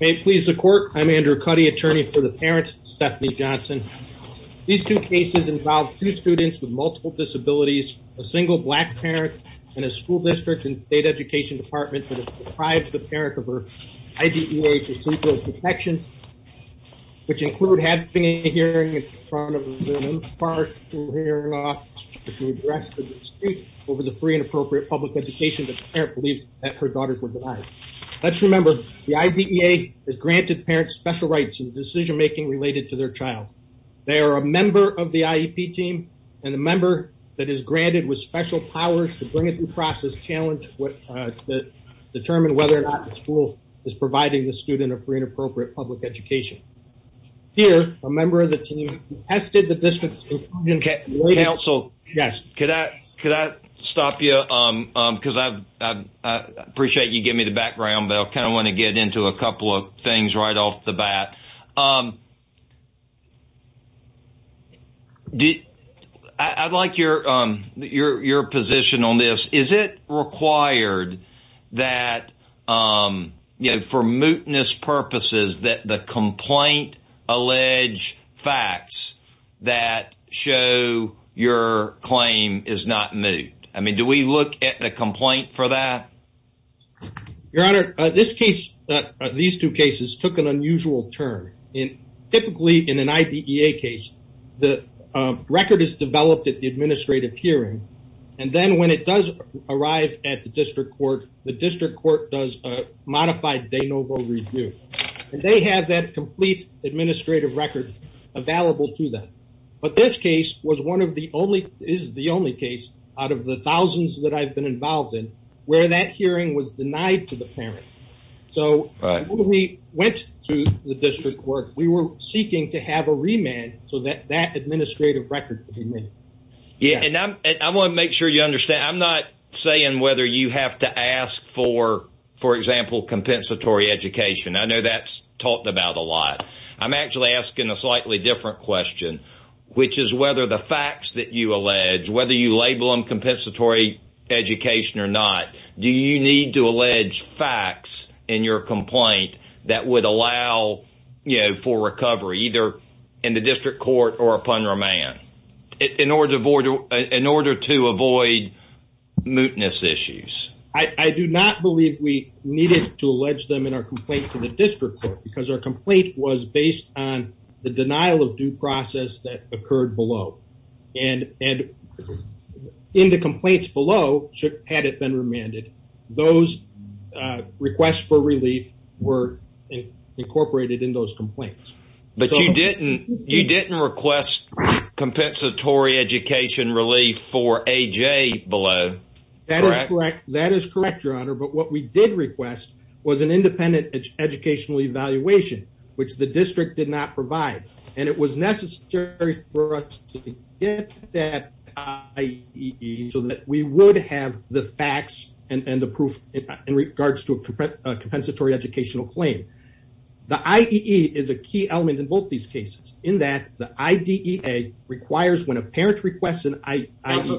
May it please the court, I'm Andrew Cuddy, attorney for the parent, Stephanie Johnson. These two cases involve two students with multiple disabilities, a single black parent, and a school district and state education department that has deprived the parent of her IDEA procedural protections, which include having a hearing in front of the school hearing office to address the dispute over the free and appropriate public education that the parent believes that her daughters were denied. Let's remember the IDEA has granted parents special rights in the decision-making related to their child. They are a member of the IEP team and a member that is granted with special powers to bring it through process challenge to determine whether or not the school is providing the student a free and appropriate public education. Here, a member of the team tested the distance inclusion. Counsel, could I stop you because I appreciate you give me the background, but I kind of want to get into a couple of things right off the bat. I'd like your position on this. Is it required that for mootness purposes that the complaint allege facts that show your claim is not moot? I mean, do we look at the complaint for that? Your honor, this case, these two cases took an unusual turn. Typically in an IDEA case, the record is developed at the administrative hearing and then when it does arrive at the record available to them. But this case is the only case out of the thousands that I've been involved in where that hearing was denied to the parent. So when we went to the district court, we were seeking to have a remand so that that administrative record would be made. Yeah, and I want to make sure you understand. I'm not saying whether you have to ask for, for example, compensatory education. I know that's talked about a lot. I'm actually asking a slightly different question, which is whether the facts that you allege, whether you label them compensatory education or not, do you need to allege facts in your complaint that would allow for recovery either in the district court or upon remand in order to avoid mootness issues? I do not believe we needed to allege them in our complaint to the district court because our complaint was based on the denial of due process that occurred below. And in the complaints below, had it been remanded, those requests for relief were incorporated in those complaints. But you didn't, you didn't request compensatory education relief for AJ below. That is correct. That is correct, Your Honor. But what we did request was an independent educational evaluation, which the district did not provide. And it was necessary for us to get that IEE so that we would have the facts and the proof in regards to a compensatory educational claim. The IEE is a key element in both these cases in that the IDEA requires when a parent requests an IEE.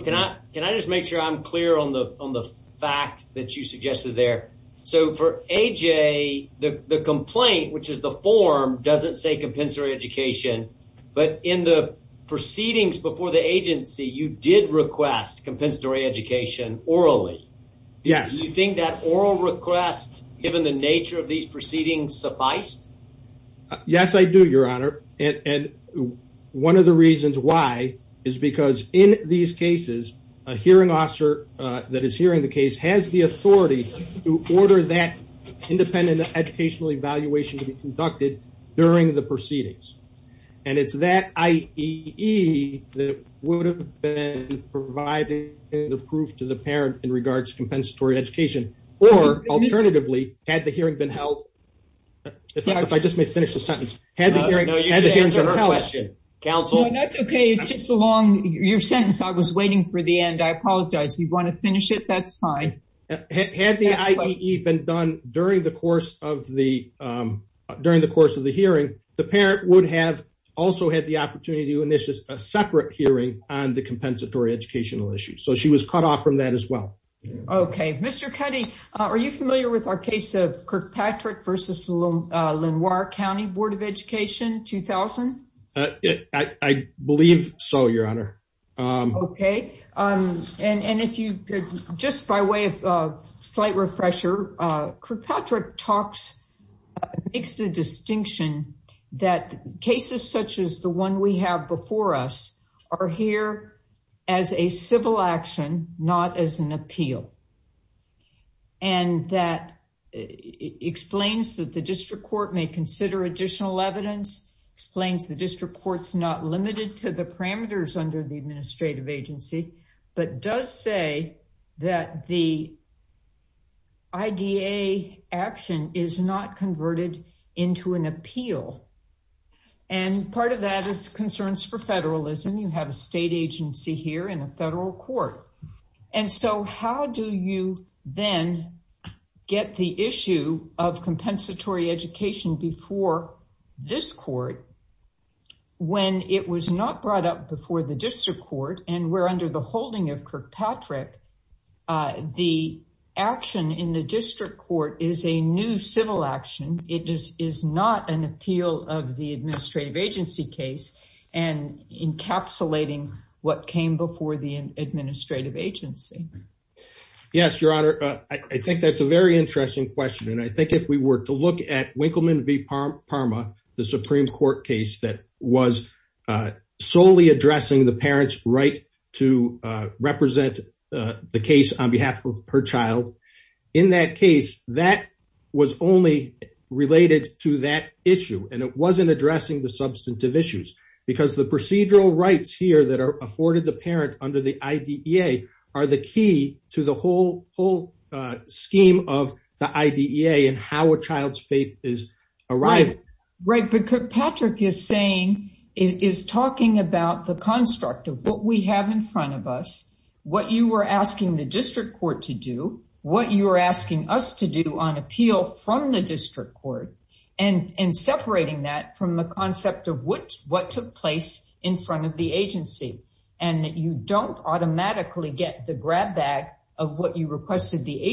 Can I just make sure I'm clear on the fact that you suggested there? So for AJ, the complaint, which is the form, doesn't say compensatory education. But in the proceedings before the agency, you did request compensatory education orally. Yes. Do you think that oral request, given the nature of these proceedings, sufficed? Yes, I do, Your Honor. And one of the reasons is because in these cases, a hearing officer that is hearing the case has the authority to order that independent educational evaluation to be conducted during the proceedings. And it's that IEE that would have been providing the proof to the parent in regards to compensatory education. Or, alternatively, had the hearing been held, if I just may finish the sentence, had the hearing been held. Counsel? No, that's okay. It's just a long sentence. I was waiting for the end. I apologize. You want to finish it? That's fine. Had the IEE been done during the course of the hearing, the parent would have also had the opportunity to initiate a separate hearing on the compensatory educational issue. So she was cut off from that as well. Okay. Mr. Cuddy, are you familiar with our case of Kirkpatrick v. Lenoir County Board of Education, 2000? I believe so, Your Honor. Okay. And if you could, just by way of slight refresher, Kirkpatrick talks, makes the distinction that cases such as the one we have before us are here as a civil action, not as an appeal. And that explains that the district court may consider additional evidence, explains the district court's not limited to the parameters under the administrative agency, but does say that the IDA action is not converted into an appeal. And part of that is concerns for federalism. You have a state agency here in a federal court. And so how do you then get the issue of compensatory education before this court when it was not brought up before the district court, and we're under the holding of Kirkpatrick, the action in the district court is a new civil action. It is not an appeal of the administrative agency case and encapsulating what came before the administrative agency. Yes, Your Honor. I think that's a very interesting question. And I think if we were to look at Winkleman v. Parma, the Supreme Court case that was solely addressing the parent's right to represent the case on behalf of her child, in that case, that was only related to that issue. And it wasn't addressing the substantive issues because the procedural rights here that are afforded the parent under the IDEA are the key to the whole scheme of the IDEA and how a child's faith is arriving. Right, but Kirkpatrick is talking about the construct of what we have in front of us, what you were asking the district court to do, what you were asking us to do on appeal from the district court, and separating that from the concept of what took place in front of the agency. And that you don't automatically get the grab bag of what you are saying. I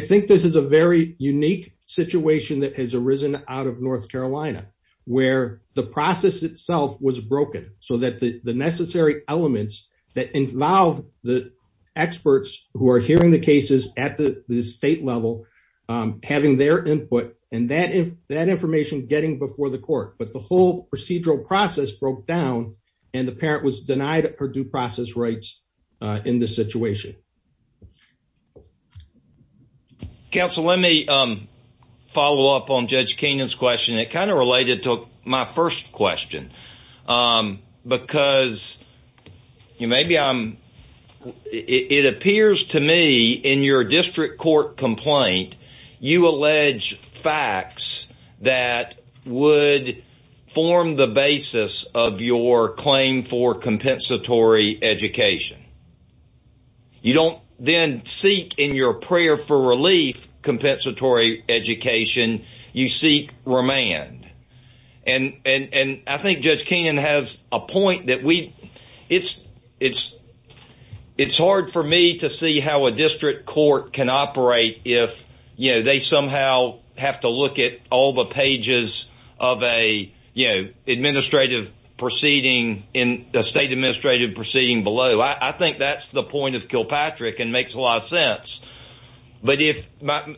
think this is a very unique situation that has arisen out of North Carolina, where the process itself was broken so that the necessary elements that involve the experts who that information getting before the court. But the whole procedural process broke down and the parent was denied her due process rights in this situation. Counsel, let me follow up on Judge Keenan's question. It kind of related to my first question because it appears to me in your district court complaint, you allege facts that would form the basis of your claim for compensatory education. You don't then seek in your prayer for relief compensatory education, you seek remand. And I think Judge Keenan has a point that it's hard for me to see how a district court can operate if they somehow have to look at all the pages of an administrative proceeding in a state administrative proceeding below. I think that's point of Kilpatrick and makes a lot of sense. But if but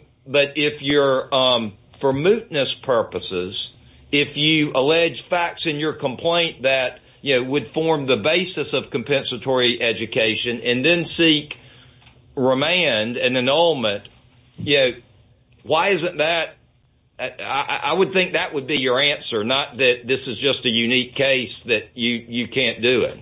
if you're for mootness purposes, if you allege facts in your complaint that you would form the basis of compensatory education and then seek remand and annulment. Yeah. Why isn't that? I would think that would be your answer, not that this is just a unique case that you can't do it.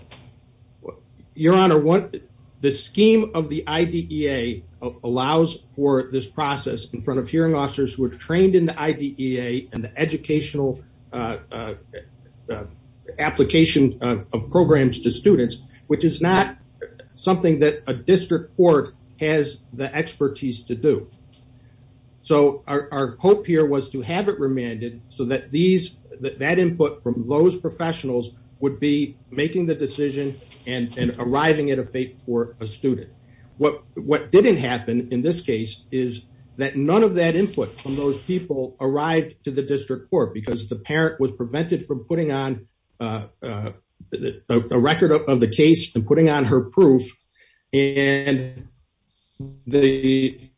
Your Honor, what the scheme of the IDEA allows for this process in front of hearing officers who are trained in the IDEA and the educational application of programs to students, which is not something that a district court has the expertise to do. So our hope here was to have it remanded so that that input from those professionals would be making the decision and arriving at a fate for a student. What didn't happen in this case is that none of that input from those people arrived to the district court because the parent was prevented from putting on a record of the case and putting on her proof and the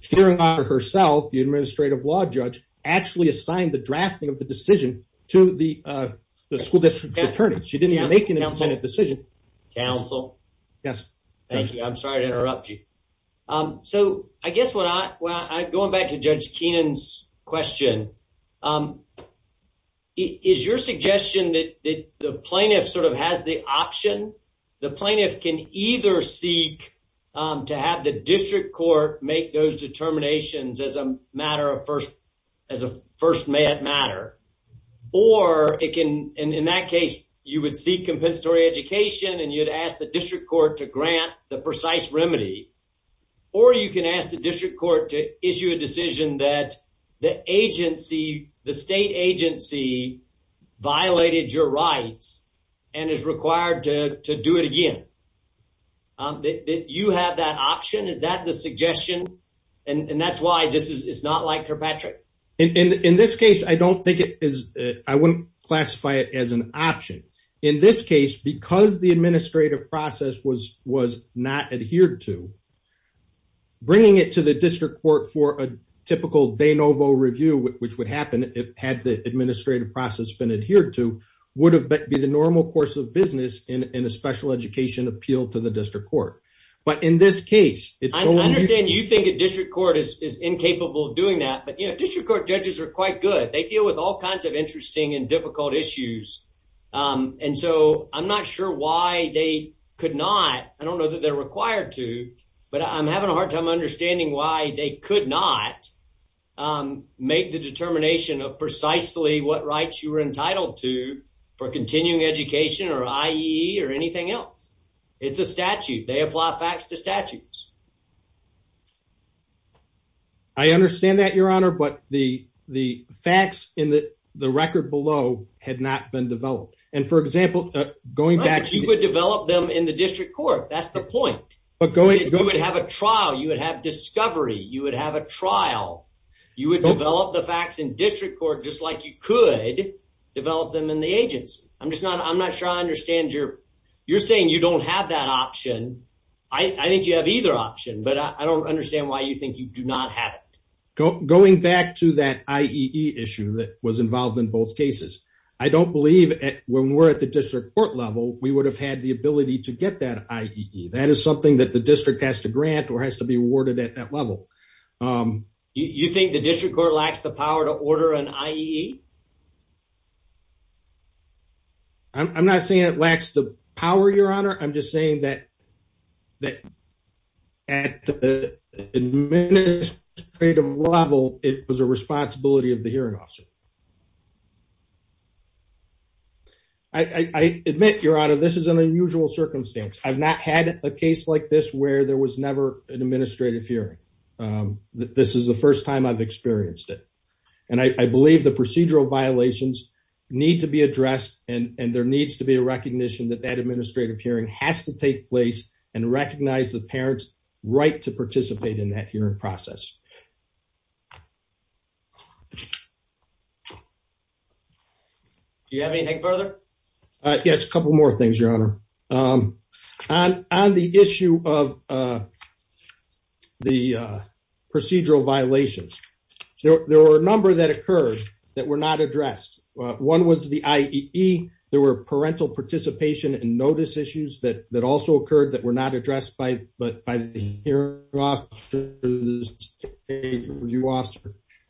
hearing herself, the administrative law judge, actually assigned the drafting of the decision to the school district attorney. She didn't even make an independent decision. Counsel? Yes. Thank you. I'm sorry to interrupt you. So I guess what I'm going back to Judge can either seek to have the district court make those determinations as a matter of first, as a first matter. Or it can, in that case, you would seek compensatory education and you'd ask the district court to grant the precise remedy. Or you can ask the district court to issue a decision that the agency, the state agency violated your rights and is required to do it again. Did you have that option? Is that the suggestion? And that's why this is not like Kirkpatrick. In this case, I don't think it is. I wouldn't classify it as an option in this case because the administrative process was was not adhered to bringing it to the district court for a typical de novo review, which would happen if had the administrative process been adhered to, would have been the normal course of business in a special education appeal to the district court. But in this case, I understand you think a district court is incapable of doing that, but district court judges are quite good. They deal with all kinds of interesting and difficult issues. And so I'm not sure why they could not. I don't know that they're required to, but I'm having a hard time understanding why they could not make the determination of precisely what you were entitled to for continuing education or IE or anything else. It's a statute. They apply facts to statutes. I understand that, your honor, but the facts in the record below had not been developed. And for example, going back, you would develop them in the district court. That's the point. But going, you would have a trial. You would have discovery. You would have a trial. You would develop the facts in district court, just like you could develop them in the agency. I'm just not, I'm not sure I understand your, you're saying you don't have that option. I think you have either option, but I don't understand why you think you do not have it. Going back to that IE issue that was involved in both cases. I don't believe when we're at the district court level, we would have had the ability to get that IE. That is something that the district has to grant or has to be awarded at that level. You think the district court lacks the power to order an IE? I'm not saying it lacks the power, your honor. I'm just saying that at the administrative level, it was a responsibility of the hearing officer. I admit, your honor, this is an unusual circumstance. I've not had a case like this where there was never an administrative hearing. This is the first time I've experienced it. And I believe the procedural violations need to be addressed and there needs to be a recognition that that administrative hearing has to take place and recognize the parent's right to participate in that hearing process. Do you have anything further? Yes, a couple more things, your honor. On the issue of the procedural violations, there were a number that occurred that were not addressed. One was the IEE. There were parental participation and notice issues that also occurred that were not addressed by the hearing officer.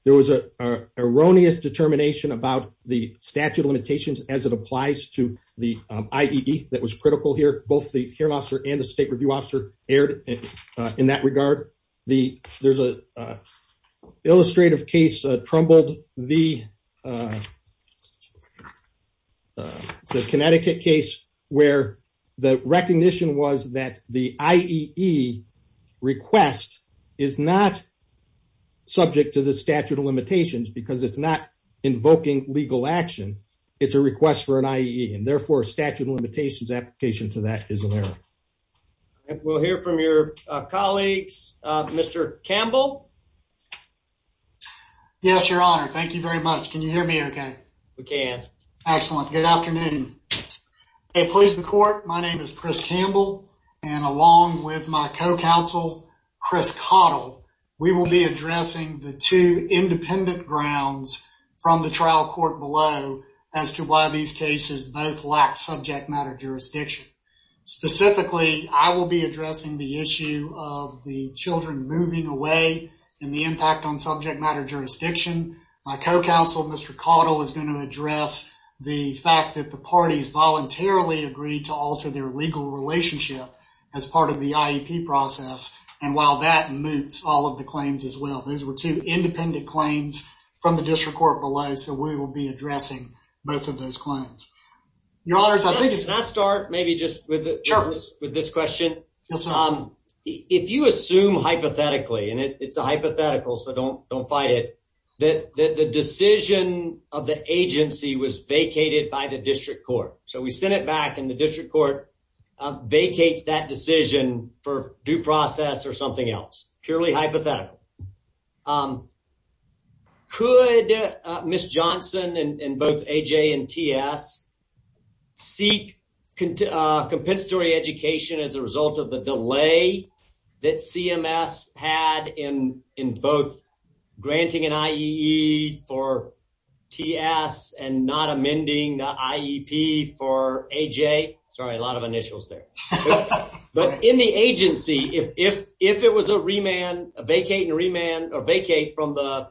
There was an erroneous determination about the statute of limitations as it applies to the IEE that was critical here. Both the hearing officer and the state review officer erred in that regard. There's an illustrative case that trumbled the Connecticut case where the recognition was that the IEE request is not subject to the statute of limitations because it's not invoking legal action. It's a request for an IEE and therefore a statute of limitations application to that is an error. We'll hear from your colleagues. Mr. Campbell? Yes, your honor. Thank you very much. Can you hear me okay? We can. Excellent. Good afternoon. Hey, police and court. My name is Chris Campbell and along with my co-counsel Chris Cottle, we will be addressing the two independent grounds from the trial court below as to why these cases both lack subject matter jurisdiction. Specifically, I will be addressing the issue of the children moving away and the impact on subject matter jurisdiction. My co-counsel, Mr. Cottle, is going to address the fact that the parties voluntarily agreed to alter their claims as well. Those were two independent claims from the district court below, so we will be addressing both of those claims. Your honors, I think it's... Can I start maybe just with this question? If you assume hypothetically, and it's a hypothetical so don't fight it, that the decision of the agency was vacated by the district court. So we sent it back and the district court vacates that decision for due process or something else. Purely hypothetical. Could Ms. Johnson and both AJ and TS seek compensatory education as a result of the delay that CMS had in both granting an IEE for TS and not amending the IEP for AJ? Sorry, a lot of initials there. But in the agency, if it was a vacate and remand or vacate from the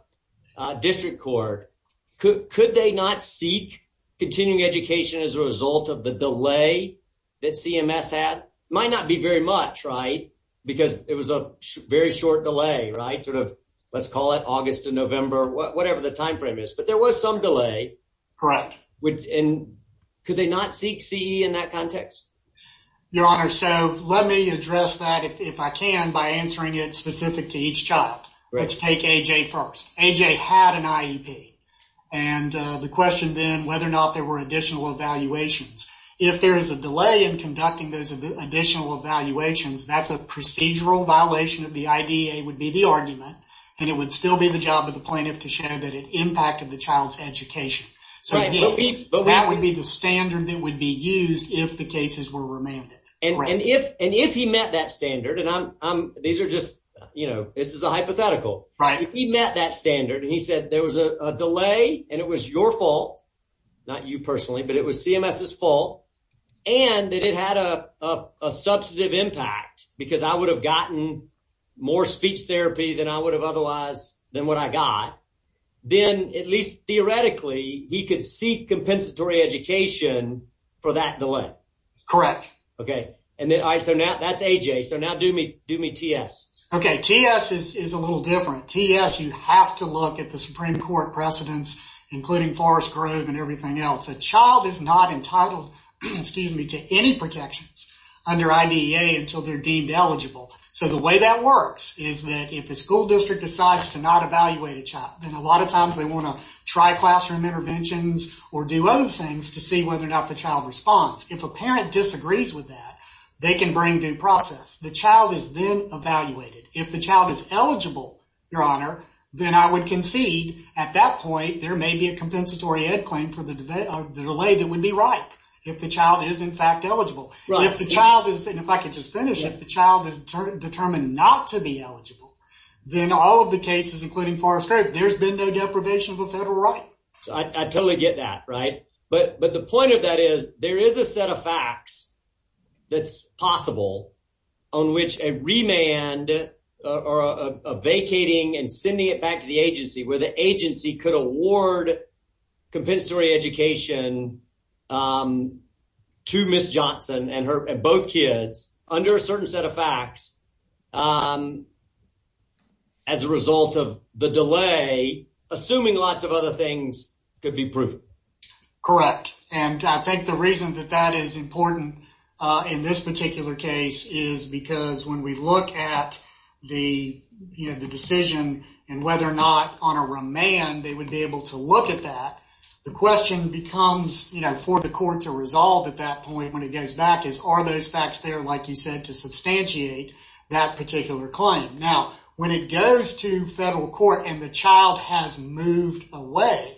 district court, could they not seek continuing education as a result of the delay that CMS had? Might not be much, right? Because it was a very short delay, right? Sort of, let's call it August to November, whatever the time frame is. But there was some delay. Correct. And could they not seek CE in that context? Your honor, so let me address that if I can by answering it specific to each child. Let's take AJ first. AJ had an IEP. And the question then, whether or not there were additional evaluations. If there is a delay in conducting those additional evaluations, that's a procedural violation of the IDEA, would be the argument. And it would still be the job of the plaintiff to show that it impacted the child's education. So that would be the standard that would be used if the cases were remanded. And if he met that standard, and these are just, you know, this is a hypothetical. Right. If he met that standard and he said there was a delay and it was your fault, not you personally, but it was CMS's fault, and that it had a substantive impact because I would have gotten more speech therapy than I would have otherwise, than what I got, then at least theoretically, he could seek compensatory education for that delay. Correct. Okay. And then, all right, so now that's AJ. So now do me, do me TS. Okay. TS is a little different. TS, you have to look at the Supreme Court precedents, including Forest Grove and everything else. A child is not entitled, excuse me, to any protections under IDEA until they're deemed eligible. So the way that works is that if the school district decides to not evaluate a child, then a lot of times they want to try classroom interventions or do other things to see whether or not the child responds. If a parent disagrees with that, they can bring due process. The child is then evaluated. If the child is conceded, at that point, there may be a compensatory ed claim for the delay that would be right if the child is in fact eligible. If the child is, and if I could just finish, if the child is determined not to be eligible, then all of the cases, including Forest Grove, there's been no deprivation of a federal right. I totally get that, right? But the point of that is there is a set of agency could award compensatory education to Ms. Johnson and both kids under a certain set of facts as a result of the delay, assuming lots of other things could be proven. Correct. And I think the reason that that is important in this particular case is because when we look at the decision and whether or not on a remand they would be able to look at that, the question becomes for the court to resolve at that point when it goes back is, are those facts there, like you said, to substantiate that particular claim? Now, when it goes to federal court and the child has moved away,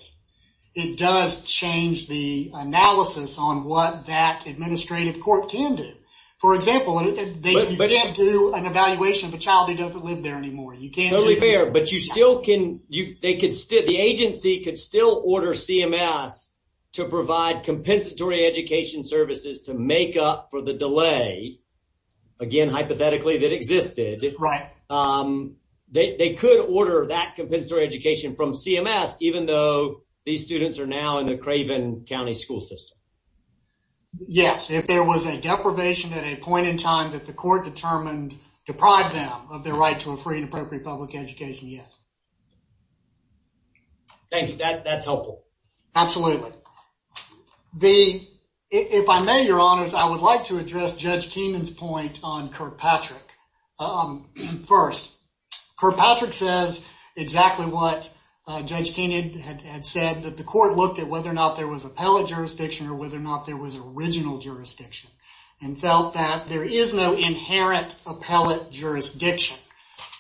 it does change the analysis on what that administrative court can do. For example, you can't do an evaluation of a child who doesn't live there anymore. Totally fair, but the agency could still order CMS to provide compensatory education services to make up for the delay, again, hypothetically, that existed. Right. They could order that compensatory education from CMS, even though these students are now in the Craven County school system. Yes. If there was a deprivation at a point in time that the court determined deprived them of their right to a free and appropriate public education, yes. Thank you. That's helpful. Absolutely. If I may, Your Honors, I would like to address Judge Keenan's point on Kirkpatrick. First, Kirkpatrick says exactly what Judge Keenan had said that the was original jurisdiction and felt that there is no inherent appellate jurisdiction.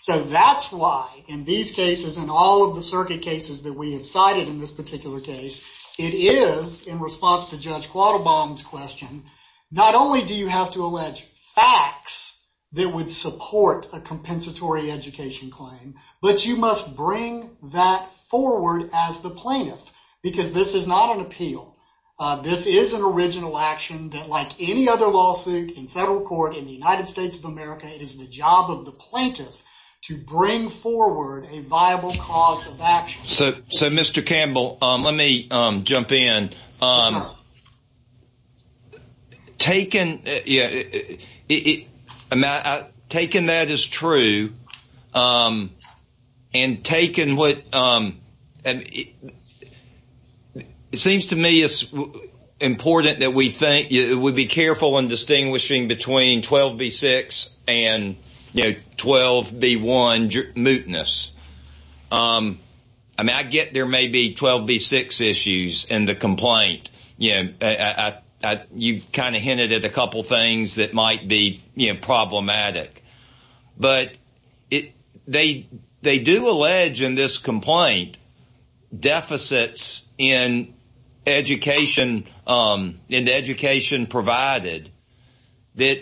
That's why in these cases and all of the circuit cases that we have cited in this particular case, it is, in response to Judge Quattlebaum's question, not only do you have to allege facts that would support a compensatory education claim, but you must bring that forward as the plaintiff because this is not an appeal. This is an original action that, like any other lawsuit in federal court in the United States of America, it is the job of the plaintiff to bring forward a viable cause of action. Mr. Campbell, let me jump in. Your Honor, taking that as true, it seems to me it's important that we be careful in distinguishing between 12B6 and 12B1 mootness. I get there may be 12B6 issues in the complaint, you know, you kind of hinted at a couple of things that might be problematic, but they do allege in this complaint deficits in education provided that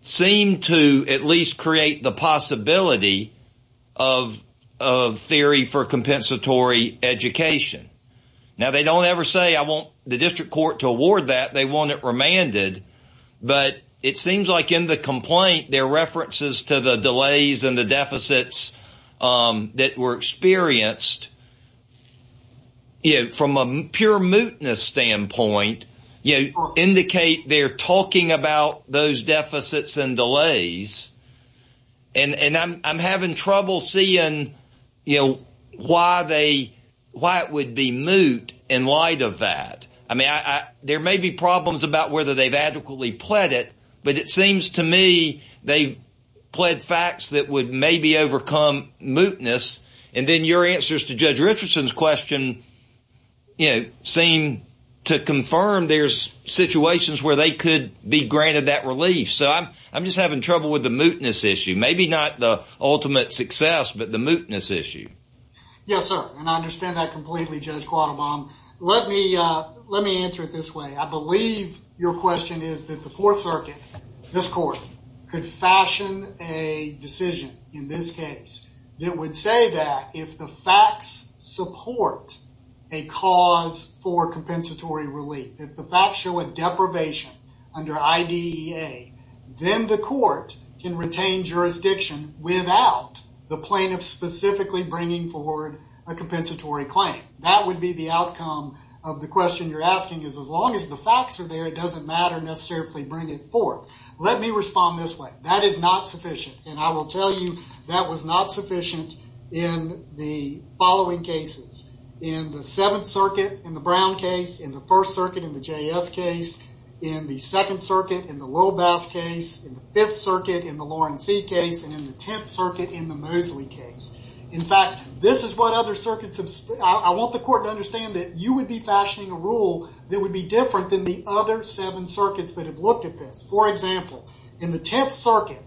seem to at least create the possibility of theory for compensatory education. Now, they don't ever say, I want the district court to award that. They want it remanded. But it seems like in the complaint, there are references to the delays and the deficits that were experienced from a pure mootness standpoint indicate they're talking about those deficits and delays and I'm having trouble seeing, you know, why they, why it would be moot in light of that. I mean, there may be problems about whether they've adequately pled it, but it seems to me they've pled facts that would maybe overcome mootness. And then your answers to Judge Richardson's question, you know, seem to confirm there's situations where they could be granted that relief. So I'm just having trouble with the mootness issue. Maybe not the ultimate success, but the mootness issue. Yes, sir. And I understand that completely, Judge Quattlebaum. Let me, let me answer it this way. I believe your question is that the Fourth Circuit, this court could fashion a decision in this case that would say that if the facts support a cause for compensatory relief, if the facts show a deprivation under IDEA, then the court can retain jurisdiction without the plaintiff specifically bringing forward a compensatory claim. That would be the outcome of the question you're asking is as long as the facts are there, it doesn't matter necessarily bring it forth. Let me respond this way. That is not sufficient, and I will tell you that was not sufficient in the following cases. In the Seventh Circuit, in the Brown case, in the First Circuit, in the J.S. case, in the Second Circuit, in the Lowell Bass case, in the Fifth Circuit, in the Lauren C. case, and in the Tenth Circuit, in the Mosley case. In fact, this is what other circuits have, I want the court to understand that you would be fashioning a rule that would be different than the other seven circuits that looked at this. For example, in the Tenth Circuit,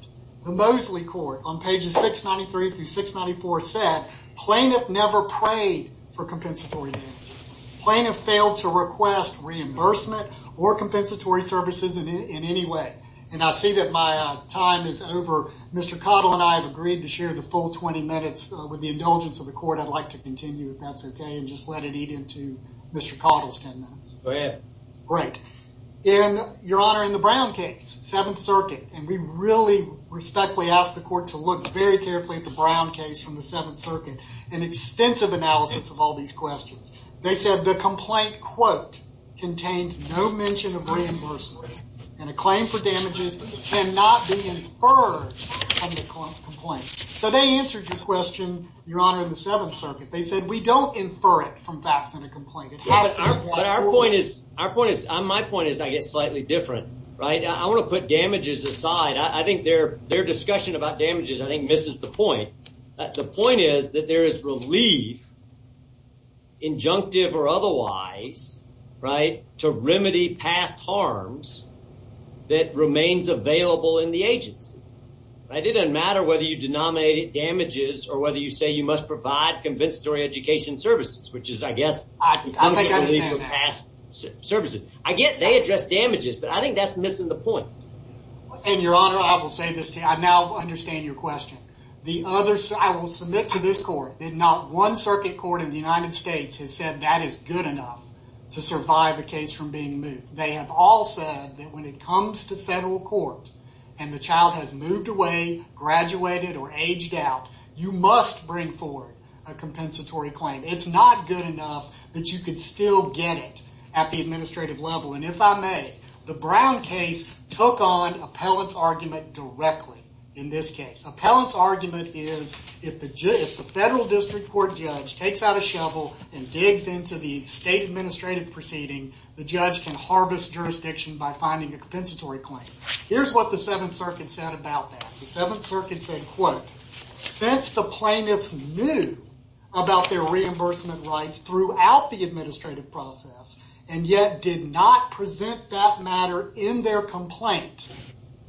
the Mosley court on pages 693 through 694 said plaintiff never prayed for compensatory damages. Plaintiff failed to request reimbursement or compensatory services in any way, and I see that my time is over. Mr. Cottle and I have agreed to share the full 20 minutes with the indulgence of the court. I'd like to continue if that's okay and just let it eat into Mr. Cottle's 10 minutes. Go ahead. Great. Your Honor, in the Brown case, Seventh Circuit, and we really respectfully ask the court to look very carefully at the Brown case from the Seventh Circuit, an extensive analysis of all these questions. They said the complaint quote contained no mention of reimbursement, and a claim for damages cannot be inferred from the complaint. So they answered your question, Your Honor, in the Seventh Circuit. They said we don't infer it from facts in a complaint. Our point is, my point is, I guess, slightly different, right? I want to put damages aside. I think their discussion about damages, I think, misses the point. The point is that there is relief, injunctive or otherwise, right, to remedy past harms that remains available in the agency. It doesn't matter whether you provide compensatory education services, which is, I guess, past services. I get they address damages, but I think that's missing the point. And, Your Honor, I will say this to you. I now understand your question. I will submit to this court that not one circuit court in the United States has said that is good enough to survive a case from being moved. They have all said that when it comes to federal court and the child has moved away, graduated, or aged out, you must bring a compensatory claim. It's not good enough that you can still get it at the administrative level. And if I may, the Brown case took on appellant's argument directly in this case. Appellant's argument is if the federal district court judge takes out a shovel and digs into the state administrative proceeding, the judge can harvest jurisdiction by finding a compensatory claim. Here's what the Seventh Circuit said about that. The Seventh Circuit said, quote, since the plaintiffs knew about their reimbursement rights throughout the administrative process and yet did not present that matter in their complaint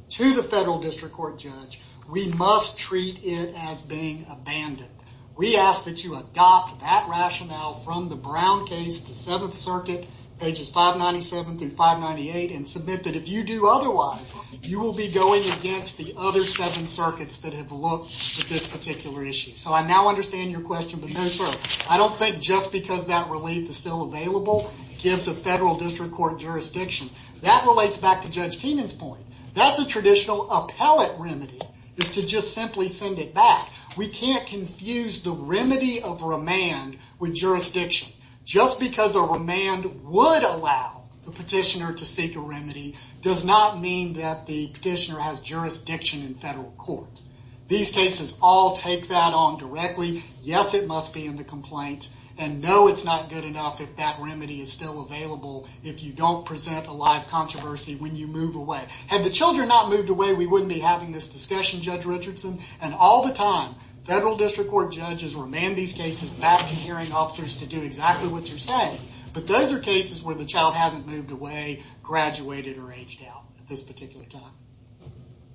to the federal district court judge, we must treat it as being abandoned. We ask that you adopt that rationale from the Brown case, the Seventh Circuit, pages 597 through 598, and submit that if you do otherwise, you will be going against the other seven circuits that have looked at this particular issue. So I now understand your question, but no sir, I don't think just because that relief is still available gives a federal district court jurisdiction. That relates back to Judge Keenan's point. That's a traditional appellate remedy is to just simply send it back. We can't confuse the remedy of remand with jurisdiction. Just because a remand would allow the petitioner to seek a remedy does not mean that the petitioner has jurisdiction in federal court. These cases all take that on directly. Yes, it must be in the complaint, and no, it's not good enough if that remedy is still available if you don't present a live controversy when you move away. Had the children not moved away, we wouldn't be having this discussion, Judge Richardson. And all the time, federal district judges remand these cases back to hearing officers to do exactly what you're saying. But those are cases where the child hasn't moved away, graduated, or aged out at this particular time.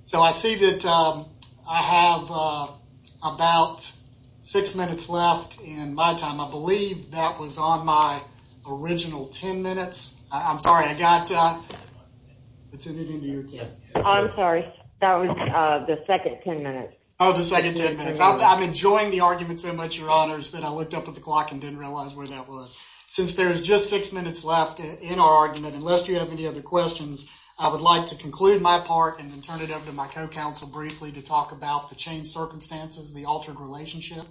So I see that I have about six minutes left in my time. I believe that was on my original 10 minutes. I'm sorry, I got... I'm sorry, that was the second 10 minutes. The second 10 minutes. I'm enjoying the argument so much, Your Honors, that I looked up at the clock and didn't realize where that was. Since there's just six minutes left in our argument, unless you have any other questions, I would like to conclude my part and then turn it over to my co-counsel briefly to talk about the changed circumstances, the altered relationship.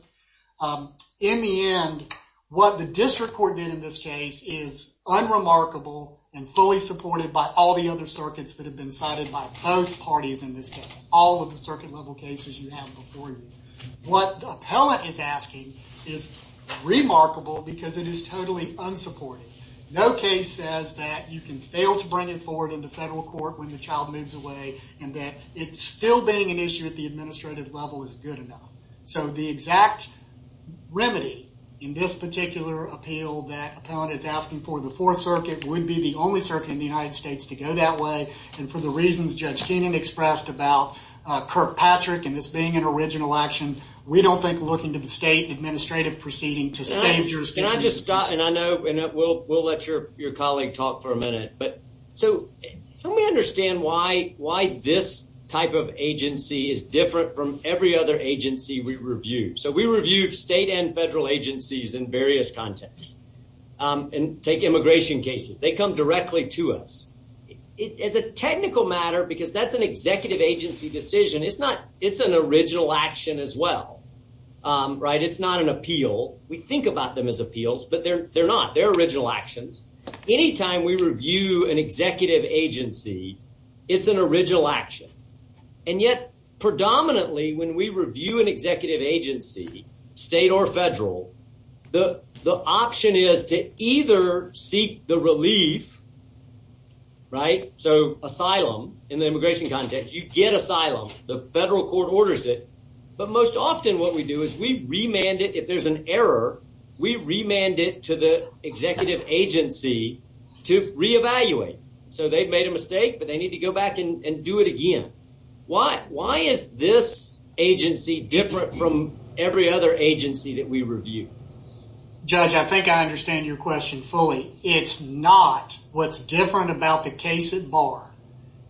In the end, what the district court did in this case is unremarkable and fully supported by all the other circuits that have been cited by both parties in this case, all of the circuit-level cases you have before you. What the appellant is asking is remarkable because it is totally unsupported. No case says that you can fail to bring it forward into federal court when the child moves away and that it still being an issue at the administrative level is good enough. So the exact remedy in this particular appeal that the appellant is asking for the Fourth Circuit would be the only circuit in the United States to go that way, and for the reasons Judge Patrick and this being an original action, we don't think looking to the state administrative proceeding to save jurisdiction. Can I just stop, and I know we'll let your colleague talk for a minute, but so help me understand why this type of agency is different from every other agency we reviewed. So we reviewed state and federal agencies in various contexts and take immigration cases. They come directly to us. As a technical matter, because that's an executive agency decision, it's an original action as well, right? It's not an appeal. We think about them as appeals, but they're not. They're original actions. Anytime we review an executive agency, it's an original action, and yet predominantly when we review an executive agency, state or federal, the option is to either seek the relief, right? So asylum in the immigration context, you get asylum. The federal court orders it, but most often what we do is we remand it. If there's an error, we remand it to the executive agency to re-evaluate. So they've made a mistake, but they need to go back and do it again. Why is this agency different from every other agency that we review? Judge, I think I understand your question fully. It's not. What's different about the case at bar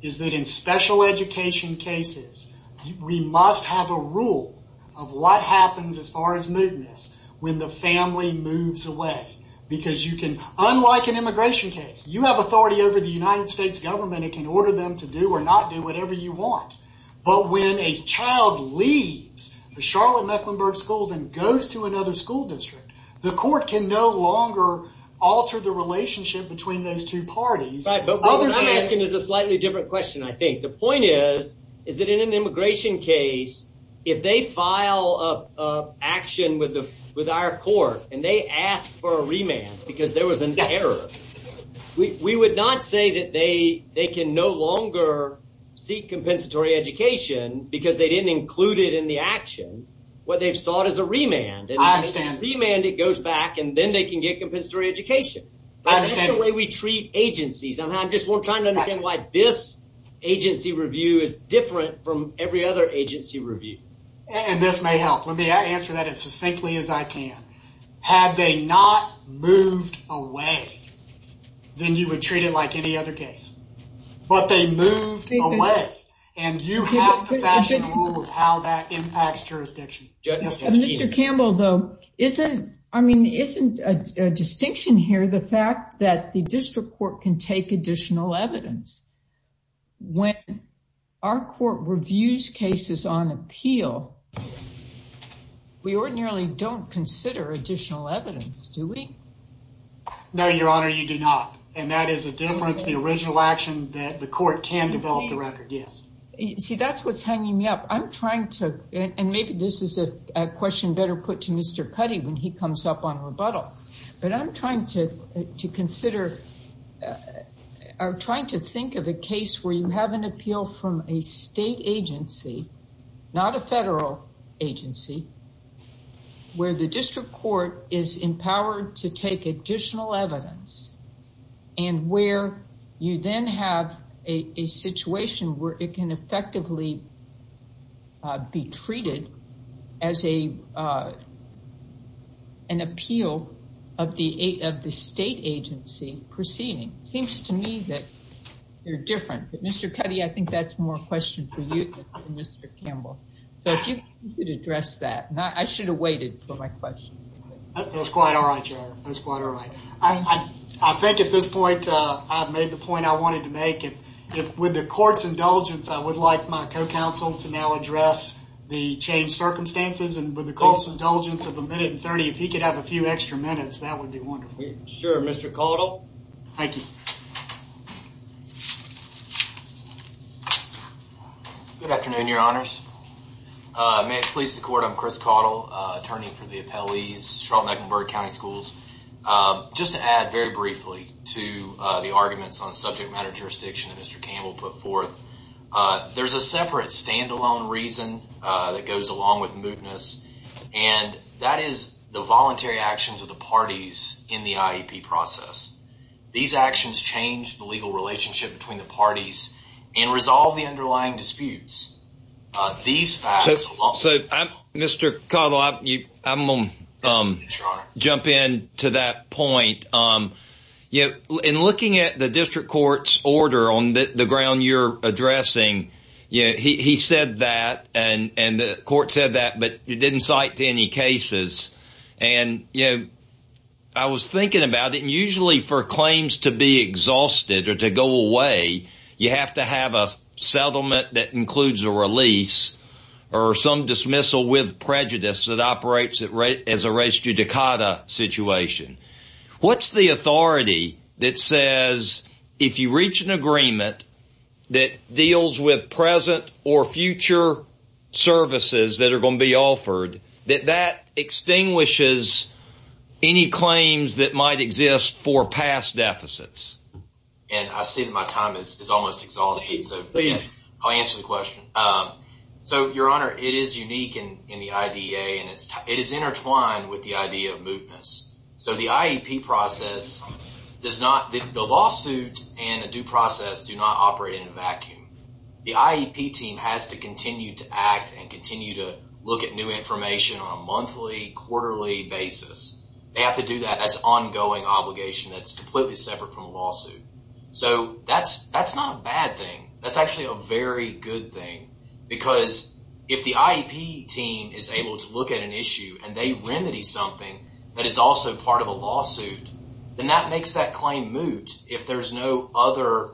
is that in special education cases, we must have a rule of what happens as far as mootness when the family moves away. Unlike an immigration case, you have authority over the United States government. It can order them to do or not do whatever you want, but when a child leaves the Charlotte-Mecklenburg schools and goes to another school district, the court can no longer alter the relationship between those two parties. Right, but what I'm asking is a slightly different question, I think. The point is that in an immigration case, if they file an action with our court and they ask for a remand because there was an error, we would not say that they can no longer seek compensatory education because they didn't include it in the action. What they've remanded goes back and then they can get compensatory education. That's the way we treat agencies. I'm just trying to understand why this agency review is different from every other agency review. And this may help. Let me answer that as succinctly as I can. Had they not moved away, then you would treat it like any other case, but they moved away and you have to fashion a rule of how that impacts jurisdiction. Mr. Campbell, though, isn't, I mean, isn't a distinction here, the fact that the district court can take additional evidence. When our court reviews cases on appeal, we ordinarily don't consider additional evidence, do we? No, Your Honor, you do not. And that is a difference, the original action that the court can develop the record. Yes. See, that's what's hanging me up. I'm trying to, and maybe this is a question better put to Mr. Cuddy when he comes up on rebuttal, but I'm trying to consider, I'm trying to think of a case where you have an appeal from a state agency, not a federal agency, where the district court is effectively be treated as an appeal of the state agency proceeding. Seems to me that they're different. But Mr. Cuddy, I think that's more a question for you than Mr. Campbell. So if you could address that. I should have waited for my question. That's quite all right, Your Honor. That's quite all right. I think at this point, I've made the point I wanted to make. If with the court's indulgence, I would like my co-counsel to now address the changed circumstances. And with the court's indulgence of a minute and 30, if he could have a few extra minutes, that would be wonderful. Sure, Mr. Caudill. Thank you. Good afternoon, Your Honors. May it please the court, I'm Chris Caudill, attorney for the appellees, Charlotte-Mecklenburg County Schools. Just to briefly to the arguments on subject matter jurisdiction that Mr. Campbell put forth. There's a separate standalone reason that goes along with mootness, and that is the voluntary actions of the parties in the IEP process. These actions change the legal relationship between the parties and resolve the underlying disputes. These facts alone. So Mr. Caudill, I'm going to jump in to that point. In looking at the district court's order on the ground you're addressing, he said that and the court said that, but it didn't cite any cases. I was thinking about it, and usually for claims to be exhausted or to go away, you have to have a settlement that includes a release or some dismissal with prejudice that is a res judicata situation. What's the authority that says if you reach an agreement that deals with present or future services that are going to be offered, that that extinguishes any claims that might exist for past deficits? I see that my time is almost exhausted, so I'll answer the question. Your Honor, it is unique in the IDA, and it is intertwined with the idea of mootness. The lawsuit and a due process do not operate in a vacuum. The IEP team has to continue to act and continue to look at new information on a monthly, quarterly basis. They have to do that. That's ongoing obligation that's completely separate from a lawsuit. That's not a bad thing. That's a very good thing because if the IEP team is able to look at an issue and they remedy something that is also part of a lawsuit, then that makes that claim moot if there's no other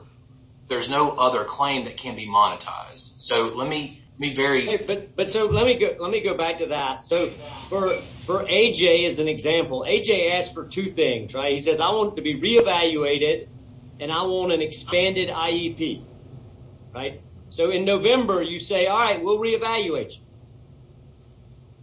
claim that can be monetized. Let me go back to that. AJ is an example. AJ asked for two things. He says, I want it to be re-evaluated, and I want an expanded IEP. In November, you say, all right, we'll re-evaluate you.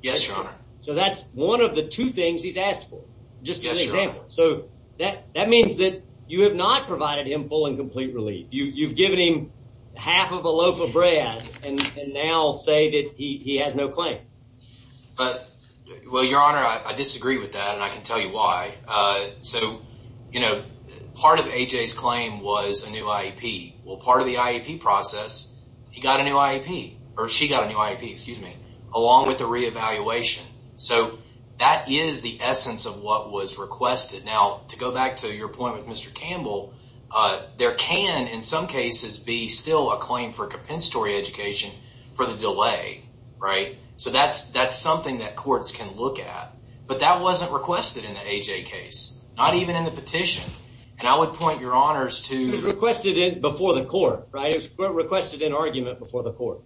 Yes, Your Honor. That's one of the two things he's asked for, just as an example. That means that you have not provided him full and complete relief. You've given him half of a loaf of bread and now say that he has no claim. Your Honor, I disagree with that, and I can tell you why. Part of AJ's claim was a new IEP. Part of the IEP process, he got a new IEP, or she got a new IEP, along with the re-evaluation. That is the essence of what was requested. Now, to go back to your point with Mr. Campbell, there can, in some cases, be still a claim for compensatory education for the delay. That's something that courts can look at, but that wasn't requested in the AJ case, not even in the petition. I would point your honors to- It was requested before the court, right? It was requested in argument before the court.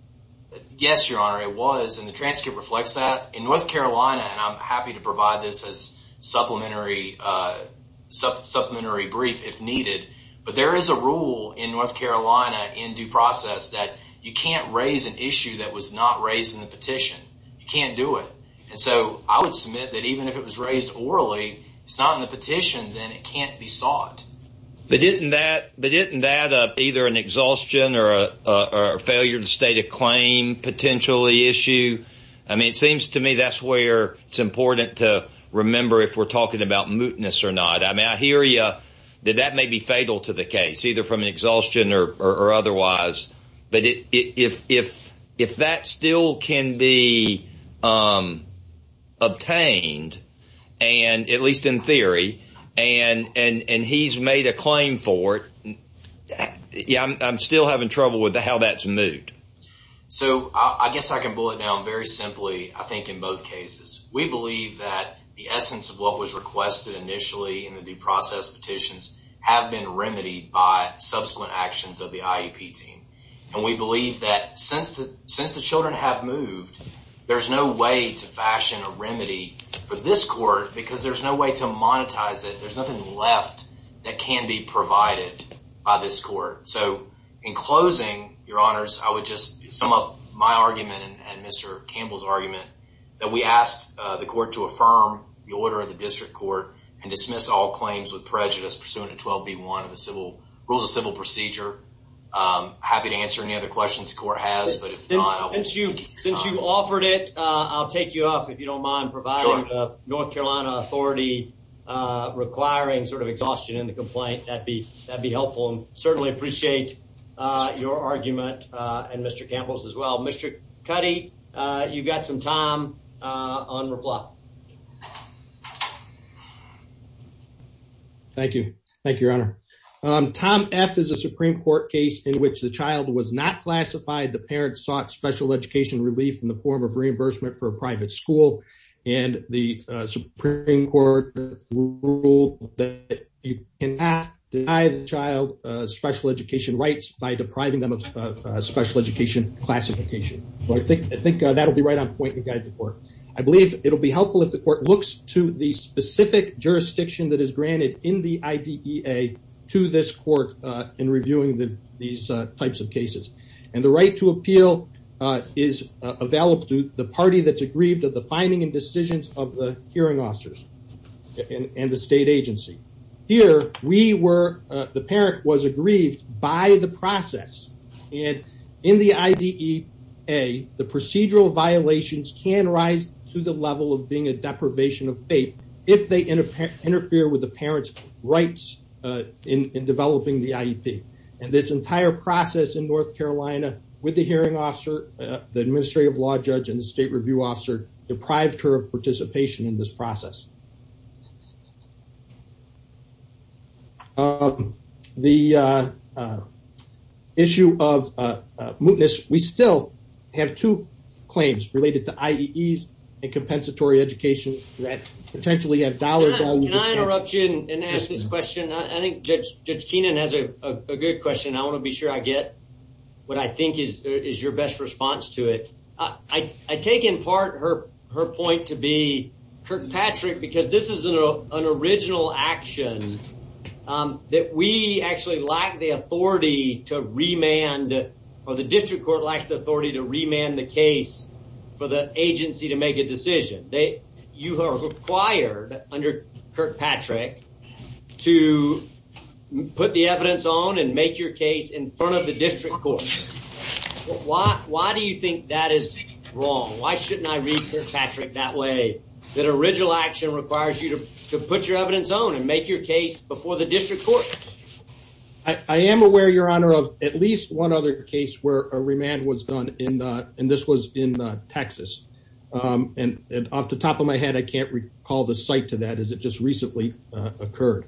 Yes, Your Honor, it was. The transcript reflects that. In North Carolina, and I'm happy to provide this as a supplementary brief if needed, but there is a rule in North Carolina in due process that you can't raise an issue that was not raised in the petition. You can't do it. I would submit that even if it was raised orally, it's not in the petition, then it can't be sought. But isn't that either an exhaustion or a failure to state a claim potentially issue? I mean, it seems to me that's where it's important to remember if we're talking about mootness or not. I mean, I hear you that that may be fatal to the case, either from an obtained, at least in theory, and he's made a claim for it. Yeah, I'm still having trouble with how that's moot. So I guess I can boil it down very simply, I think, in both cases. We believe that the essence of what was requested initially in the due process petitions have been remedied by subsequent actions of the IEP team. And we believe that since the children have moved, there's no way to fashion a remedy for this court because there's no way to monetize it. There's nothing left that can be provided by this court. So in closing, your honors, I would just sum up my argument and Mr. Campbell's argument that we asked the court to affirm the order of the district court and dismiss all claims with prejudice pursuant to 12b1 of the civil rules of civil procedure. I'm happy to answer any other questions the court has, but if not... Since you've offered it, I'll take you up if you don't mind providing the North Carolina authority requiring sort of exhaustion in the complaint. That'd be helpful and certainly appreciate your argument and Mr. Campbell's as well. Mr. Cuddy, you've got some time on reply. Thank you. Thank you, your honor. Tom F is a Supreme Court case in which the child was not classified. The parents sought special education relief in the form of reimbursement for a private school and the Supreme Court ruled that you cannot deny the child special education rights by depriving them of special education classification. I think that'll be right on point to guide the court. I believe it'll be helpful if the court looks to the specific jurisdiction that is granted in the IDEA to this court in reviewing these types of cases and the right to appeal is available to the party that's aggrieved of the finding and decisions of the hearing officers and the state and in the IDEA, the procedural violations can rise to the level of being a deprivation of fate if they interfere with the parent's rights in developing the IEP and this entire process in North Carolina with the hearing officer, the administrative law judge and the state review officer deprived her of participation in this process. The issue of mootness, we still have two claims related to IEEs and compensatory education that potentially have dollars. Can I interrupt you and ask this question? I think Judge Kenan has a good question. I want to be sure I get what I think is your best response to it. I take in part her point to be Kirkpatrick because this is an original action that we actually lack the authority to remand or the district court lacks the authority to remand the case for the agency to make a decision. You are required under Kirkpatrick to put the evidence on and make your case in front of the district court. Why do you think that is wrong? Why shouldn't I treat Kirkpatrick that way? That original action requires you to put your evidence on and make your case before the district court? I am aware, your honor, of at least one other case where a remand was done and this was in Texas and off the top of my head I can't recall the site to that as it just recently occurred.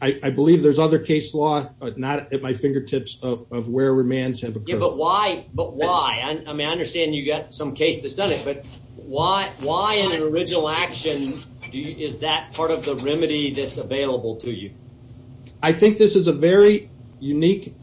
I believe there's other case law but not at my fingertips of where remands have occurred. But why? I mean I understand you got some case that's done it but why in an original action is that part of the remedy that's available to you? I think this is a very unique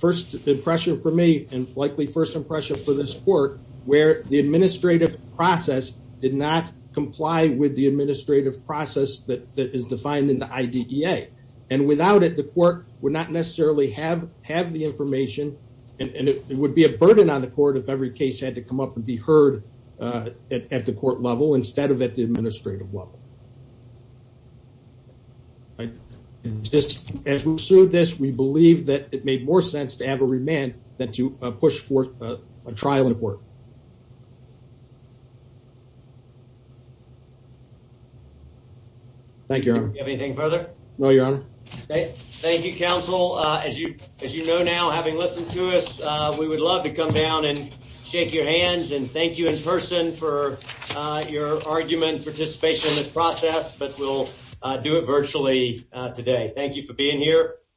first impression for me and likely first impression for this court where the administrative process did not comply with the administrative process that is defined in the IDEA and without it the court would not necessarily have the information and it would be a burden on the court if every case had to come up and be heard at the court level instead of at the administrative level. Just as we pursued this we believe that it made more sense to have a remand than to push forth a trial in court. Thank you, your honor. Do you have anything further? No, your honor. Okay, thank you, counsel. As you as you know now having listened to us we would love to come down and shake your hands and thank you in person for your argument participation in this process but we'll do it virtually today. Thank you for being here.